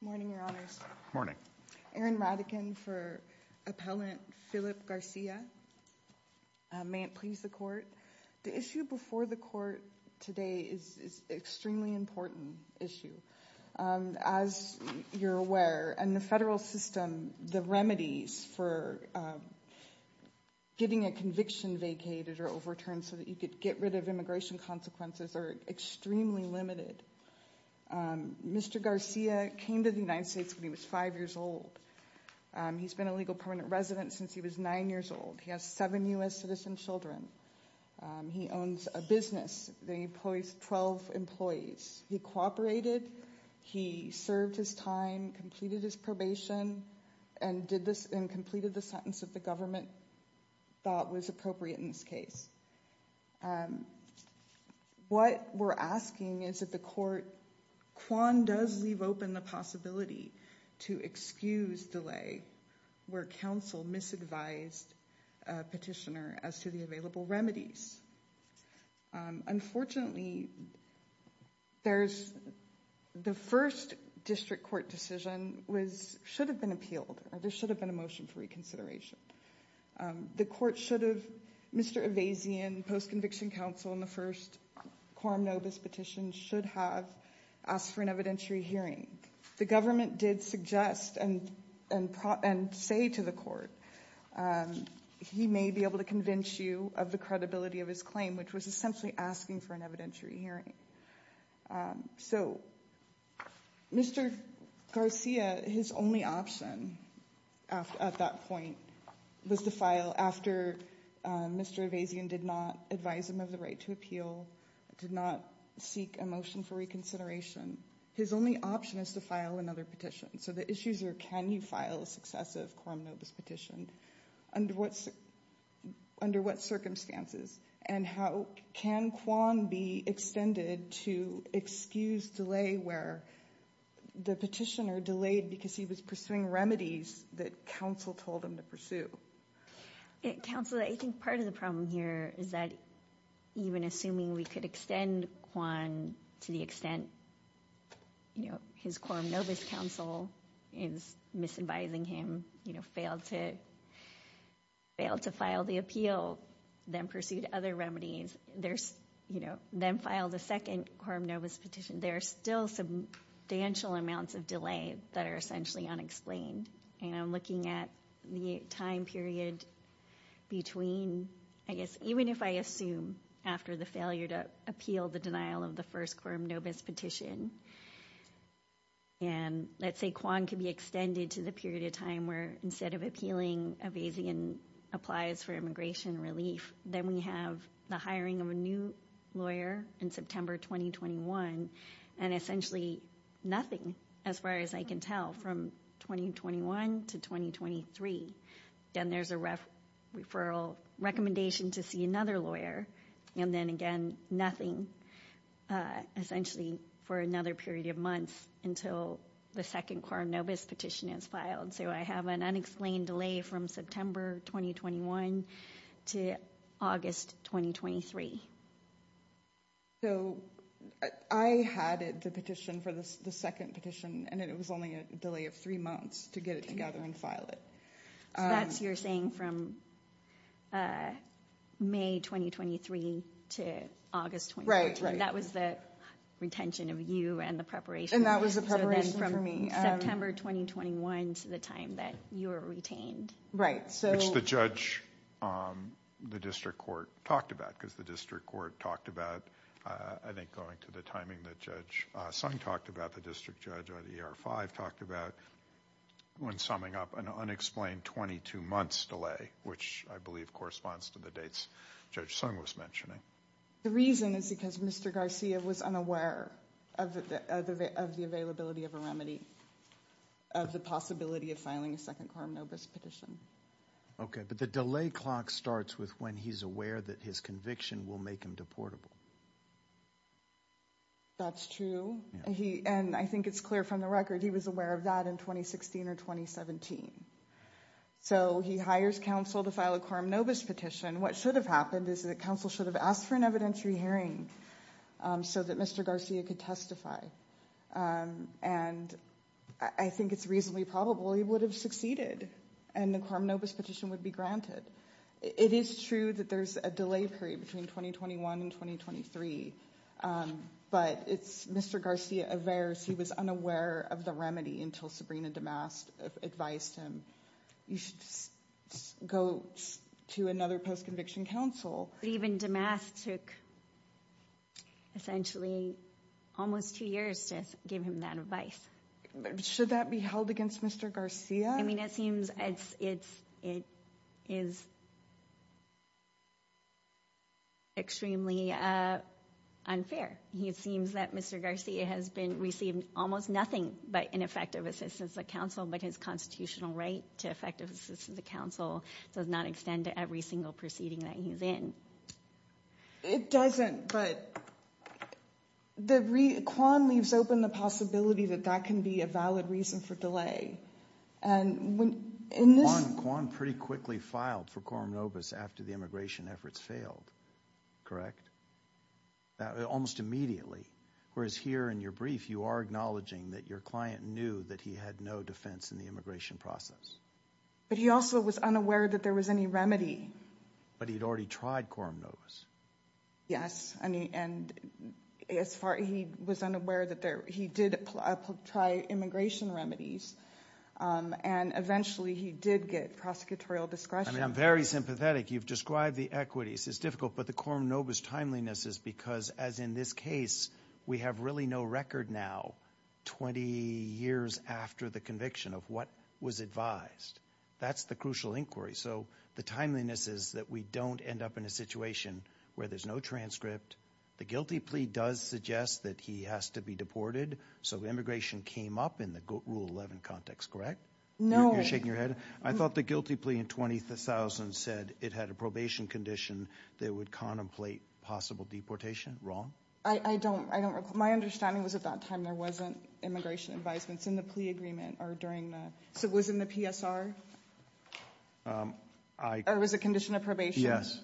Morning, Your Honors. Erin Radican for Appellant Philip Garcia. May it please the Court. The issue before the Court today is an extremely important issue. As you're aware, in the federal system, the remedies for getting a conviction vacated or overturned so that you could get rid of immigration consequences are extremely limited. Mr. Garcia came to the United States when he was five years old. He's been a legal permanent resident since he was nine years old. He has seven U.S. citizen children. He owns a business that employs 12 employees. He cooperated, he served his time, completed his probation, and completed the sentence that the government thought was appropriate in this case. What we're asking is that the Court, Quan, does leave open the possibility to excuse delay where counsel misadvised a petitioner as to the available remedies. Unfortunately, the first district court decision should have been appealed, or there should have been a motion for reconsideration. The Court should have, Mr. Evazian, post-conviction counsel in the first quorum nobis petition should have asked for an evidentiary hearing. The government did suggest and say to the Court, he may be able to convince you of the credibility of his claim, which was essentially asking for an evidentiary hearing. So, Mr. Garcia, his only option at that point was to file after Mr. Evazian did not advise him of the right to appeal, did not seek a motion for reconsideration. His only option is to file another petition. So the issues are, can you file a successive quorum nobis petition? Under what circumstances? And how can Quan be extended to excuse delay where the petitioner delayed because he was pursuing remedies that counsel told him to pursue? Counsel, I think part of the problem here is that even assuming we could extend Quan to the extent, you know, his quorum nobis counsel is misadvising him, you know, failed to file the appeal, then pursued other remedies, there's, you know, then filed a second quorum nobis petition, there are still substantial amounts of delay that are essentially unexplained. And I'm looking at the time period between, I guess, even if I assume after the failure to appeal the denial of the first quorum nobis petition, and let's say Quan can be extended to the period of time where instead of appealing, Avazian applies for immigration relief. Then we have the hiring of a new lawyer in September 2021, and essentially nothing as far as I can tell from 2021 to 2023. Then there's a referral recommendation to see another lawyer. And then again, nothing essentially for another period of months until the second quorum nobis petition is filed. So I have an unexplained delay from September 2021 to August 2023. So I had the petition for the second petition, and it was only a delay of three months to get it together and file it. That's you're saying from May 2023 to August 2023. That was the retention of you and the preparation. And that was the preparation for me. So then from September 2021 to the time that you were retained. Right. Which the judge, the district court talked about, because the district court talked about, I think going to the timing that Judge Sung talked about, the district judge at ER-5 talked about when summing up an unexplained 22 months delay, which I believe corresponds to the dates Judge Sung was mentioning. The reason is because Mr. Garcia was unaware of the availability of a remedy, of the possibility of filing a second quorum nobis petition. Okay. But the delay clock starts with when he's aware that his conviction will make him deportable. That's true. And I think it's clear from the record, he was aware of that in 2016 or 2017. So he hires counsel to file a quorum nobis petition. What should have happened is that counsel should have asked for an evidentiary hearing so that Mr. Garcia could testify. And I think it's reasonably probable he would have succeeded and the quorum nobis petition would be granted. It is true that there's a delay period between 2021 and 2023, but it's Mr. Garcia averse. He was unaware of the remedy until Sabrina DeMast advised him, you should go to another post-conviction counsel. Even DeMast took essentially almost two years to give him that advice. Should that be held against Mr. Garcia? I mean, it seems it's, it is extremely unfair. It seems that Mr. Garcia has been receiving almost nothing but ineffective assistance of counsel, but his constitutional right to effective assistance of counsel does not extend to every single proceeding that he's in. It doesn't, but the re, Quan leaves open the possibility that that can be a valid reason for delay. And when, in this- Quan pretty quickly filed for quorum nobis after the immigration efforts failed, correct? Almost immediately. Whereas here in your brief, you are acknowledging that your client knew that he had no defense in the immigration process. But he also was unaware that there was any remedy. But he'd already tried quorum nobis. Yes. I mean, and as far, he was unaware that there, he did apply, try immigration remedies. And eventually he did get prosecutorial discretion. I mean, I'm very sympathetic. You've described the equities, it's difficult, but the quorum nobis timeliness is because as in this case, we have really no record now, 20 years after the conviction of what was advised. That's the crucial inquiry. So the timeliness is that we don't end up in a situation where there's no transcript. The guilty plea does suggest that he has to be deported. So immigration came up in the rule 11 context, correct? No. You're shaking your head? I thought the guilty plea in 20,000 said it had a probation condition that would contemplate possible deportation. Wrong? I don't, I don't recall. My understanding was at that time there wasn't immigration advisements in the plea agreement or during the, so it was in the PSR? Or it was a condition of probation? Yes.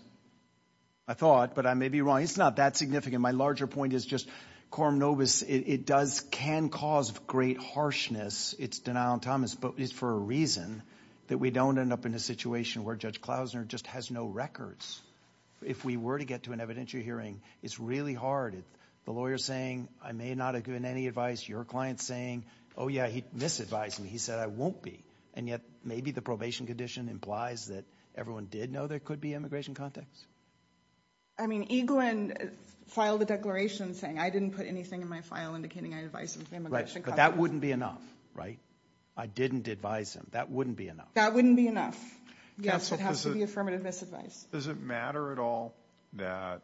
I thought, but I may be wrong. It's not that significant. My larger point is just quorum nobis, it does, can cause great harshness. It's denial and Thomas, but it's for a reason that we don't end up in a situation where Judge Klausner just has no records. If we were to get to an evidentiary hearing, it's really hard. The lawyer saying, I may not have given any advice. Your client saying, oh yeah, he misadvised me. He said I won't be. And yet maybe the probation condition implies that everyone did know there could be immigration context. I mean, Eaglin filed a declaration saying I didn't put anything in my file indicating I advised him. Right. But that wouldn't be enough. Right? I didn't advise him. That wouldn't be enough. That wouldn't be enough. Yes. It has to be affirmative misadvice. Does it matter at all that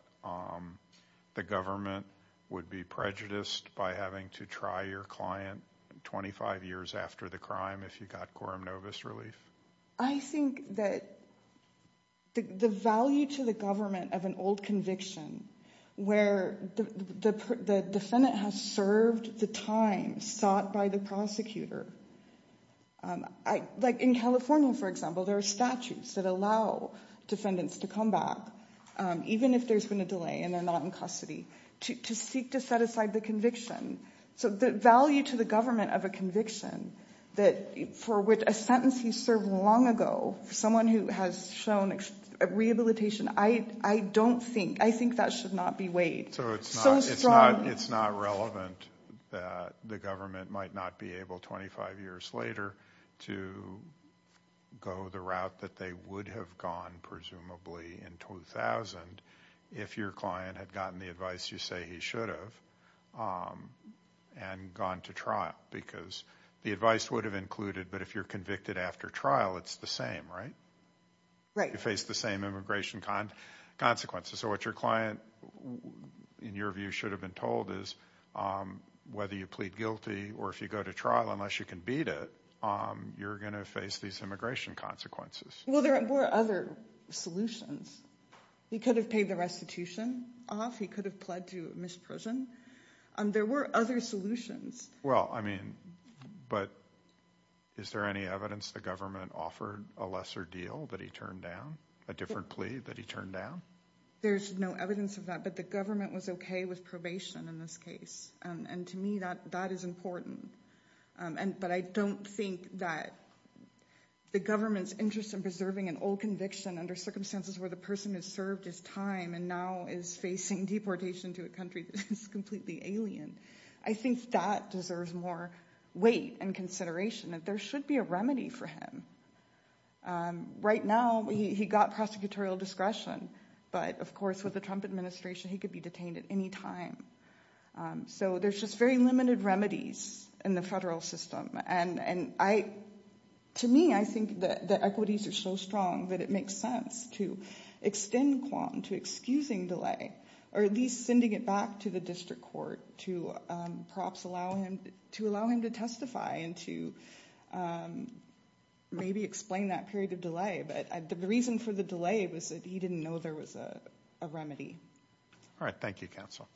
the government would be prejudiced by having to try your client 25 years after the crime if you got quorum nobis relief? I think that the value to the government of an old conviction where the defendant has served the time sought by the prosecutor, like in California, for example, there are documents to come back, even if there's been a delay and they're not in custody, to seek to set aside the conviction. So the value to the government of a conviction for which a sentence he served long ago, someone who has shown rehabilitation, I don't think, I think that should not be weighed so strongly. It's not relevant that the government might not be able 25 years later to go the route that they would have gone, presumably, in 2000 if your client had gotten the advice you say he should have and gone to trial. Because the advice would have included, but if you're convicted after trial, it's the same, right? Right. You face the same immigration consequences. So what your client, in your view, should have been told is whether you plead guilty or if you go to trial, unless you can beat it, you're going to face these immigration consequences. Well, there were other solutions. He could have paid the restitution off. He could have pled to misprision. There were other solutions. Well, I mean, but is there any evidence the government offered a lesser deal that he turned down, a different plea that he turned down? There's no evidence of that, but the government was okay with probation in this case. And to me, that is important, but I don't think that the government's interest in preserving an old conviction under circumstances where the person has served his time and now is facing deportation to a country that is completely alien, I think that deserves more weight and consideration that there should be a remedy for him. Right now, he got prosecutorial discretion, but of course, with the Trump administration, he could be detained at any time. So there's just very limited remedies in the federal system. And to me, I think that the equities are so strong that it makes sense to extend quant to excusing delay or at least sending it back to the district court to perhaps allow him to testify and to maybe explain that period of delay, but the reason for the delay was that he didn't know there was a remedy. All right. Thank you, counsel.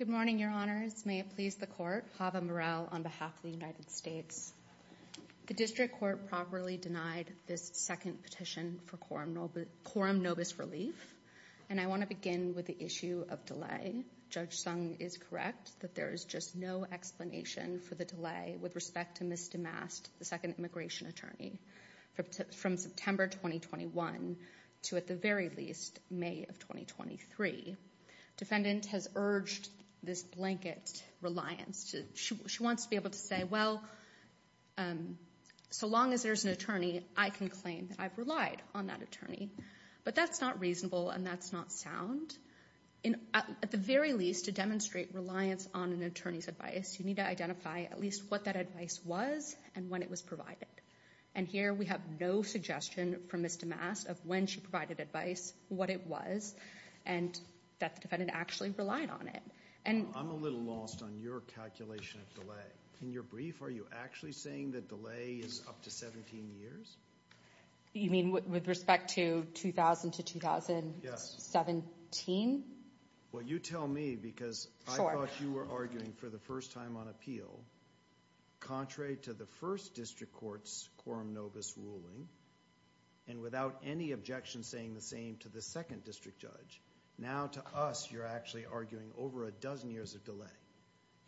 Good morning, your honors. May it please the court, Hava Morel on behalf of the United States. The district court properly denied this second petition for quorum nobis relief, and I want to begin with the issue of delay. Judge Sung is correct that there is just no explanation for the delay with respect to Ms. DeMast, the second immigration attorney, from September 2021 to at the very least May of 2023. Defendant has urged this blanket reliance. She wants to be able to say, well, so long as there's an attorney, I can claim that I've relied on that attorney, but that's not reasonable and that's not sound. At the very least, to demonstrate reliance on an attorney's advice, you need to identify at least what that advice was and when it was provided, and here we have no suggestion from Ms. DeMast of when she provided advice, what it was, and that the defendant actually relied on it. I'm a little lost on your calculation of delay. In your brief, are you actually saying that delay is up to 17 years? You mean with respect to 2000 to 2017? Well, you tell me because I thought you were arguing for the first time on appeal, contrary to the first district court's quorum nobis ruling, and without any objection saying the same to the second district judge. Now to us, you're actually arguing over a dozen years of delay.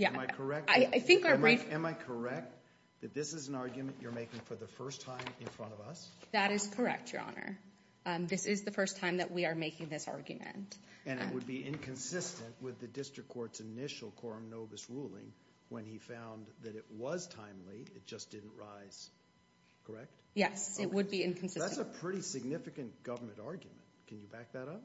Am I correct? Yeah, I think our brief... Am I correct that this is an argument you're making for the first time in front of us? That is correct, Your Honor. This is the first time that we are making this argument. And it would be inconsistent with the district court's initial quorum nobis ruling when he found that it was timely, it just didn't rise, correct? Yes, it would be inconsistent. That's a pretty significant government argument. Can you back that up?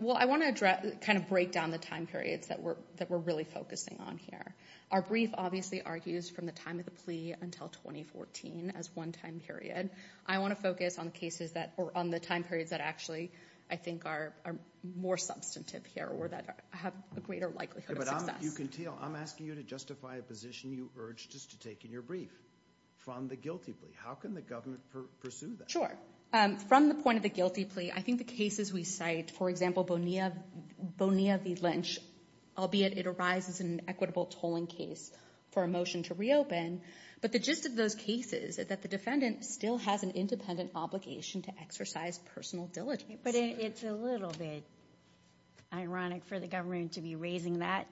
Well, I want to kind of break down the time periods that we're really focusing on here. Our brief obviously argues from the time of the plea until 2014 as one time period. I want to focus on the time periods that actually, I think, are more substantive here or that have a greater likelihood of success. I'm asking you to justify a position you urged us to take in your brief from the guilty plea. How can the government pursue that? Sure. From the point of the guilty plea, I think the cases we cite, for example, Bonilla v. Lynch, albeit it arises in an equitable tolling case for a motion to reopen. But the gist of those cases is that the defendant still has an independent obligation to exercise personal diligence. But it's a little bit ironic for the government to be raising that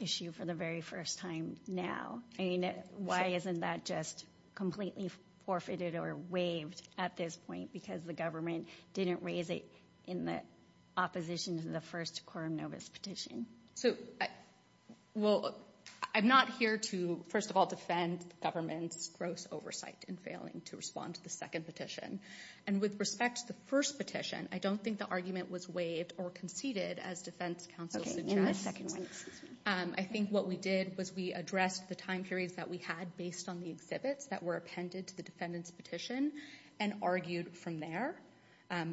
issue for the very first time now. I mean, why isn't that just completely forfeited or waived at this point? Because the government didn't raise it in the opposition to the first quorum notice petition. So, well, I'm not here to, first of all, defend the government's gross oversight in failing to respond to the second petition. And with respect to the first petition, I don't think the argument was waived or conceded as defense counsel suggests. I think what we did was we addressed the time periods that we had based on the exhibits that were appended to the defendant's petition and argued from there.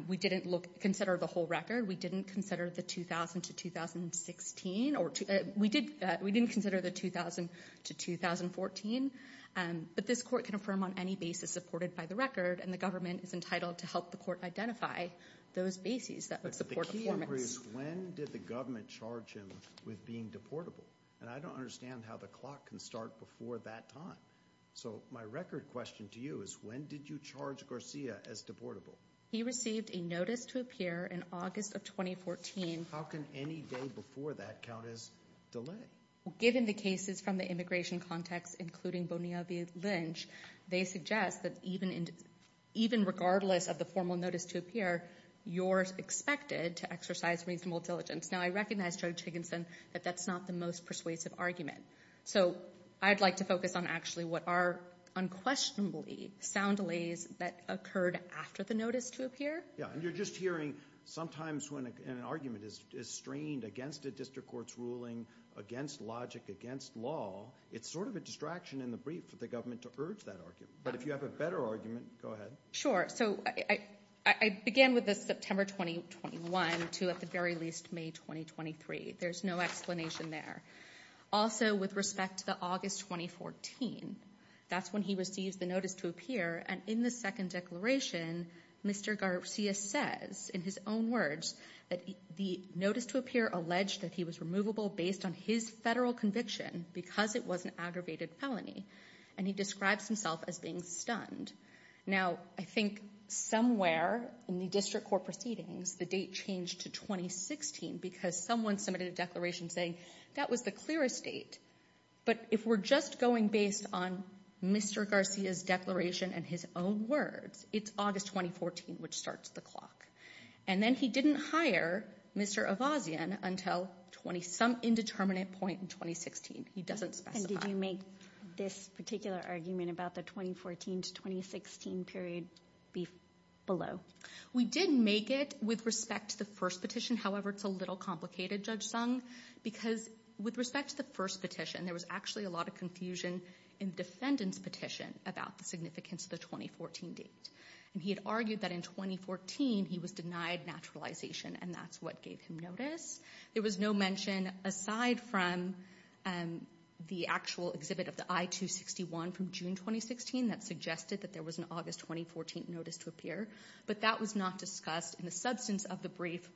We didn't consider the whole record. We didn't consider the 2000 to 2016. We didn't consider the 2000 to 2014. But this court can affirm on any basis supported by the record, and the government is entitled to help the court identify those bases that would support the performance. But the key is, when did the government charge him with being deportable? And I don't understand how the clock can start before that time. So, my record question to you is, when did you charge Garcia as deportable? He received a notice to appear in August of 2014. How can any day before that count as delay? Given the cases from the immigration context, including Bonilla v. Lynch, they suggest that even regardless of the formal notice to appear, you're expected to exercise reasonable diligence. Now, I recognize, Judge Higginson, that that's not the most persuasive argument. So, I'd like to focus on actually what are unquestionably sound delays that occurred after the notice to appear. Yeah, and you're just hearing sometimes when an argument is strained against a district court's ruling, against logic, against law, it's sort of a distraction in the brief for the government to urge that argument. But if you have a better argument, go ahead. Sure. So, I began with the September 2021 to, at the very least, May 2023. There's no explanation there. Also, with respect to the August 2014, that's when he receives the notice to appear. And in the second declaration, Mr. Garcia says, in his own words, that the notice to appear alleged that he was removable based on his federal conviction because it was an aggravated felony. And he describes himself as being stunned. Now, I think somewhere in the district court proceedings, the date changed to 2016 because someone submitted a declaration saying that was the clearest date. But if we're just going based on Mr. Garcia's declaration and his own words, it's August 2014, which starts the clock. And then he didn't hire Mr. Avazian until some indeterminate point in 2016. He doesn't specify. And did you make this particular argument about the 2014 to 2016 period below? We did make it with respect to the first petition. However, it's a little complicated, Judge Sung, because with respect to the first petition, there was actually a lot of confusion in the defendant's petition about the significance of the 2014 date. And he had argued that in 2014, he was denied naturalization, and that's what gave him notice. There was no mention aside from the actual exhibit of the I-261 from June 2016 that suggested that there was an August 2014 notice to appear. But that was not discussed in the substance of the brief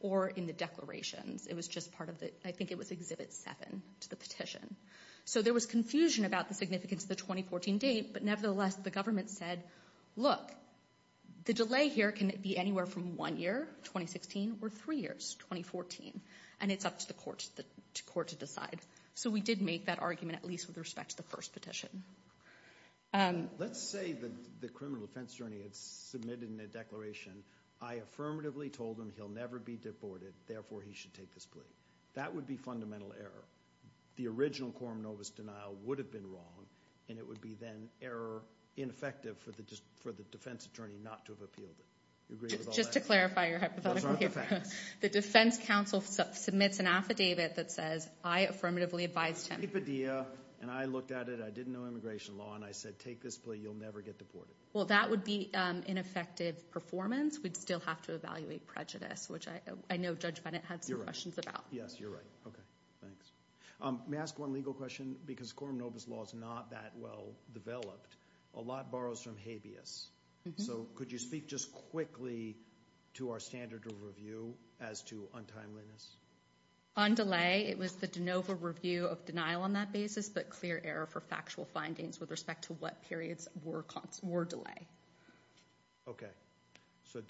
or in the declarations. It was just part of the, I think it was exhibit seven to the petition. So there was confusion about the significance of the 2014 date, but nevertheless, the government said, look, the delay here can be anywhere from one year, 2016, or three years, 2014. And it's up to the court to decide. So we did make that argument, at least with respect to the first petition. Let's say that the criminal defense attorney had submitted in a declaration, I affirmatively told him he'll never be deported, therefore he should take this plea. That would be fundamental error. The original Coram Novus denial would have been wrong, and it would be then error, ineffective for the defense attorney not to have appealed it. Just to clarify your hypothetical here. The defense counsel submits an affidavit that says, I affirmatively advised him. Take it Padilla. And I looked at it, I didn't know immigration law, and I said, take this plea, you'll never get deported. Well, that would be ineffective performance. We'd still have to evaluate prejudice, which I know Judge Bennett had some questions about. Yes, you're right. Okay. Thanks. May I ask one legal question? Because Coram Novus law is not that well developed. A lot borrows from habeas. So could you speak just quickly to our standard of review as to untimeliness? On delay, it was the de novo review of denial on that basis, but clear error for factual findings with respect to what periods were delay. Okay. So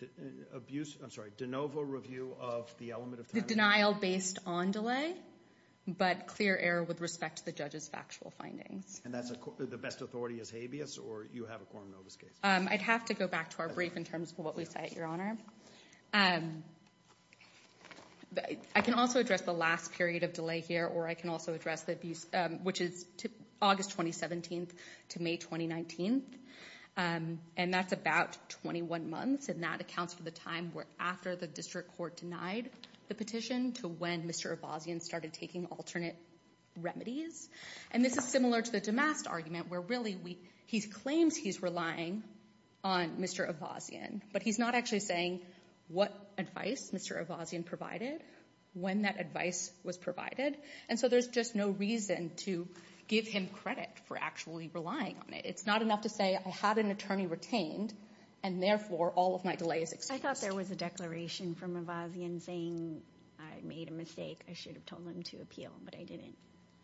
abuse, I'm sorry, de novo review of the element of time? The denial based on delay, but clear error with respect to the judge's factual findings. And that's the best authority is habeas, or you have a Coram Novus case? I'd have to go back to our brief in terms of what we cite, Your Honor. I can also address the last period of delay here, or I can also address the abuse, which is August 2017 to May 2019. And that's about 21 months, and that accounts for the time after the district court denied the petition to when Mr. Abbasian started taking alternate remedies. And this is similar to the Damast argument, where really he claims he's relying on Mr. Abbasian, but he's not actually saying what advice Mr. Abbasian provided, when that advice was provided. And so there's just no reason to give him credit for actually relying on it. It's not enough to say I had an attorney retained, and therefore all of my delay is excused. I thought there was a declaration from Abbasian saying I made a mistake, I should have told him to appeal, but I didn't.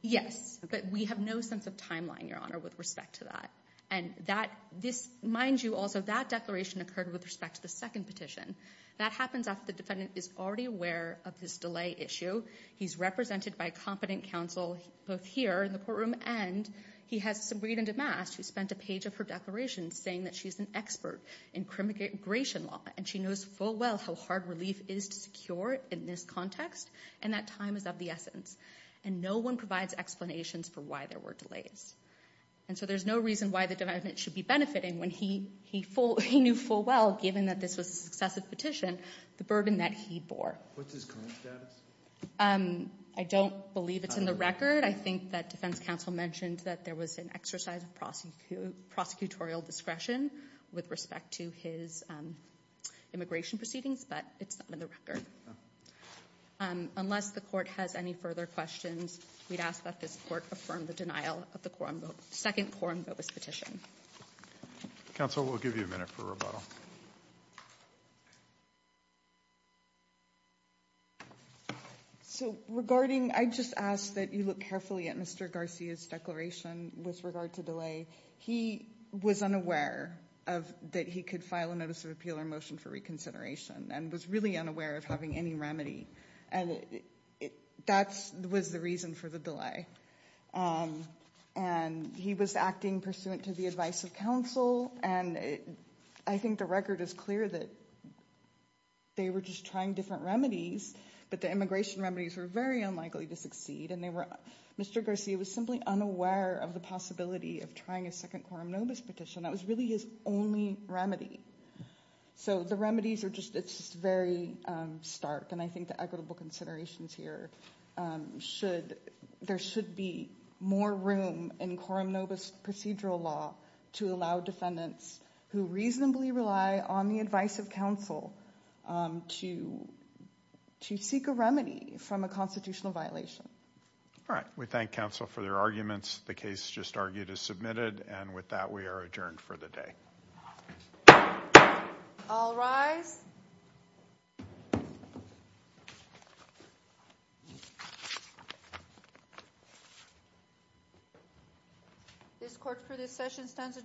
Yes, but we have no sense of timeline, Your Honor, with respect to that. And that, this, mind you also, that declaration occurred with respect to the second petition. That happens after the defendant is already aware of this delay issue. He's represented by competent counsel, both here in the courtroom, and he has some read in Damast, who spent a page of her declaration saying that she's an expert in criminal immigration law, and she knows full well how hard relief is to secure in this context, and that time is of the essence. And no one provides explanations for why there were delays. And so there's no reason why the defendant should be benefiting when he knew full well, given that this was a successive petition, the burden that he bore. What's his current status? I don't believe it's in the record. I think that defense counsel mentioned that there was an exercise of prosecutorial discretion with respect to his immigration proceedings, but it's not in the record. Unless the court has any further questions, we'd ask that this court affirm the denial of the second quorum vote, second quorum vote, this petition. Counsel, we'll give you a minute for rebuttal. So regarding, I just ask that you look carefully at Mr. Garcia's declaration with regard to delay. He was unaware of, that he could file a notice of appeal or motion for reconsideration, and was really unaware of having any remedy. And that was the reason for the delay. And he was acting pursuant to the advice of counsel, and I think the record is clear that they were just trying different remedies, but the immigration remedies were very unlikely to succeed. And they were, Mr. Garcia was simply unaware of the possibility of trying a second quorum notice petition. That was really his only remedy. So the remedies are just, it's very stark, and I think the equitable considerations here should, there should be more room in quorum notice procedural law to allow defendants who reasonably rely on the advice of counsel to seek a remedy from a constitutional violation. All right. We thank counsel for their arguments. The case just argued is submitted, and with that we are adjourned for the day. All rise. This court for this session stands adjourned.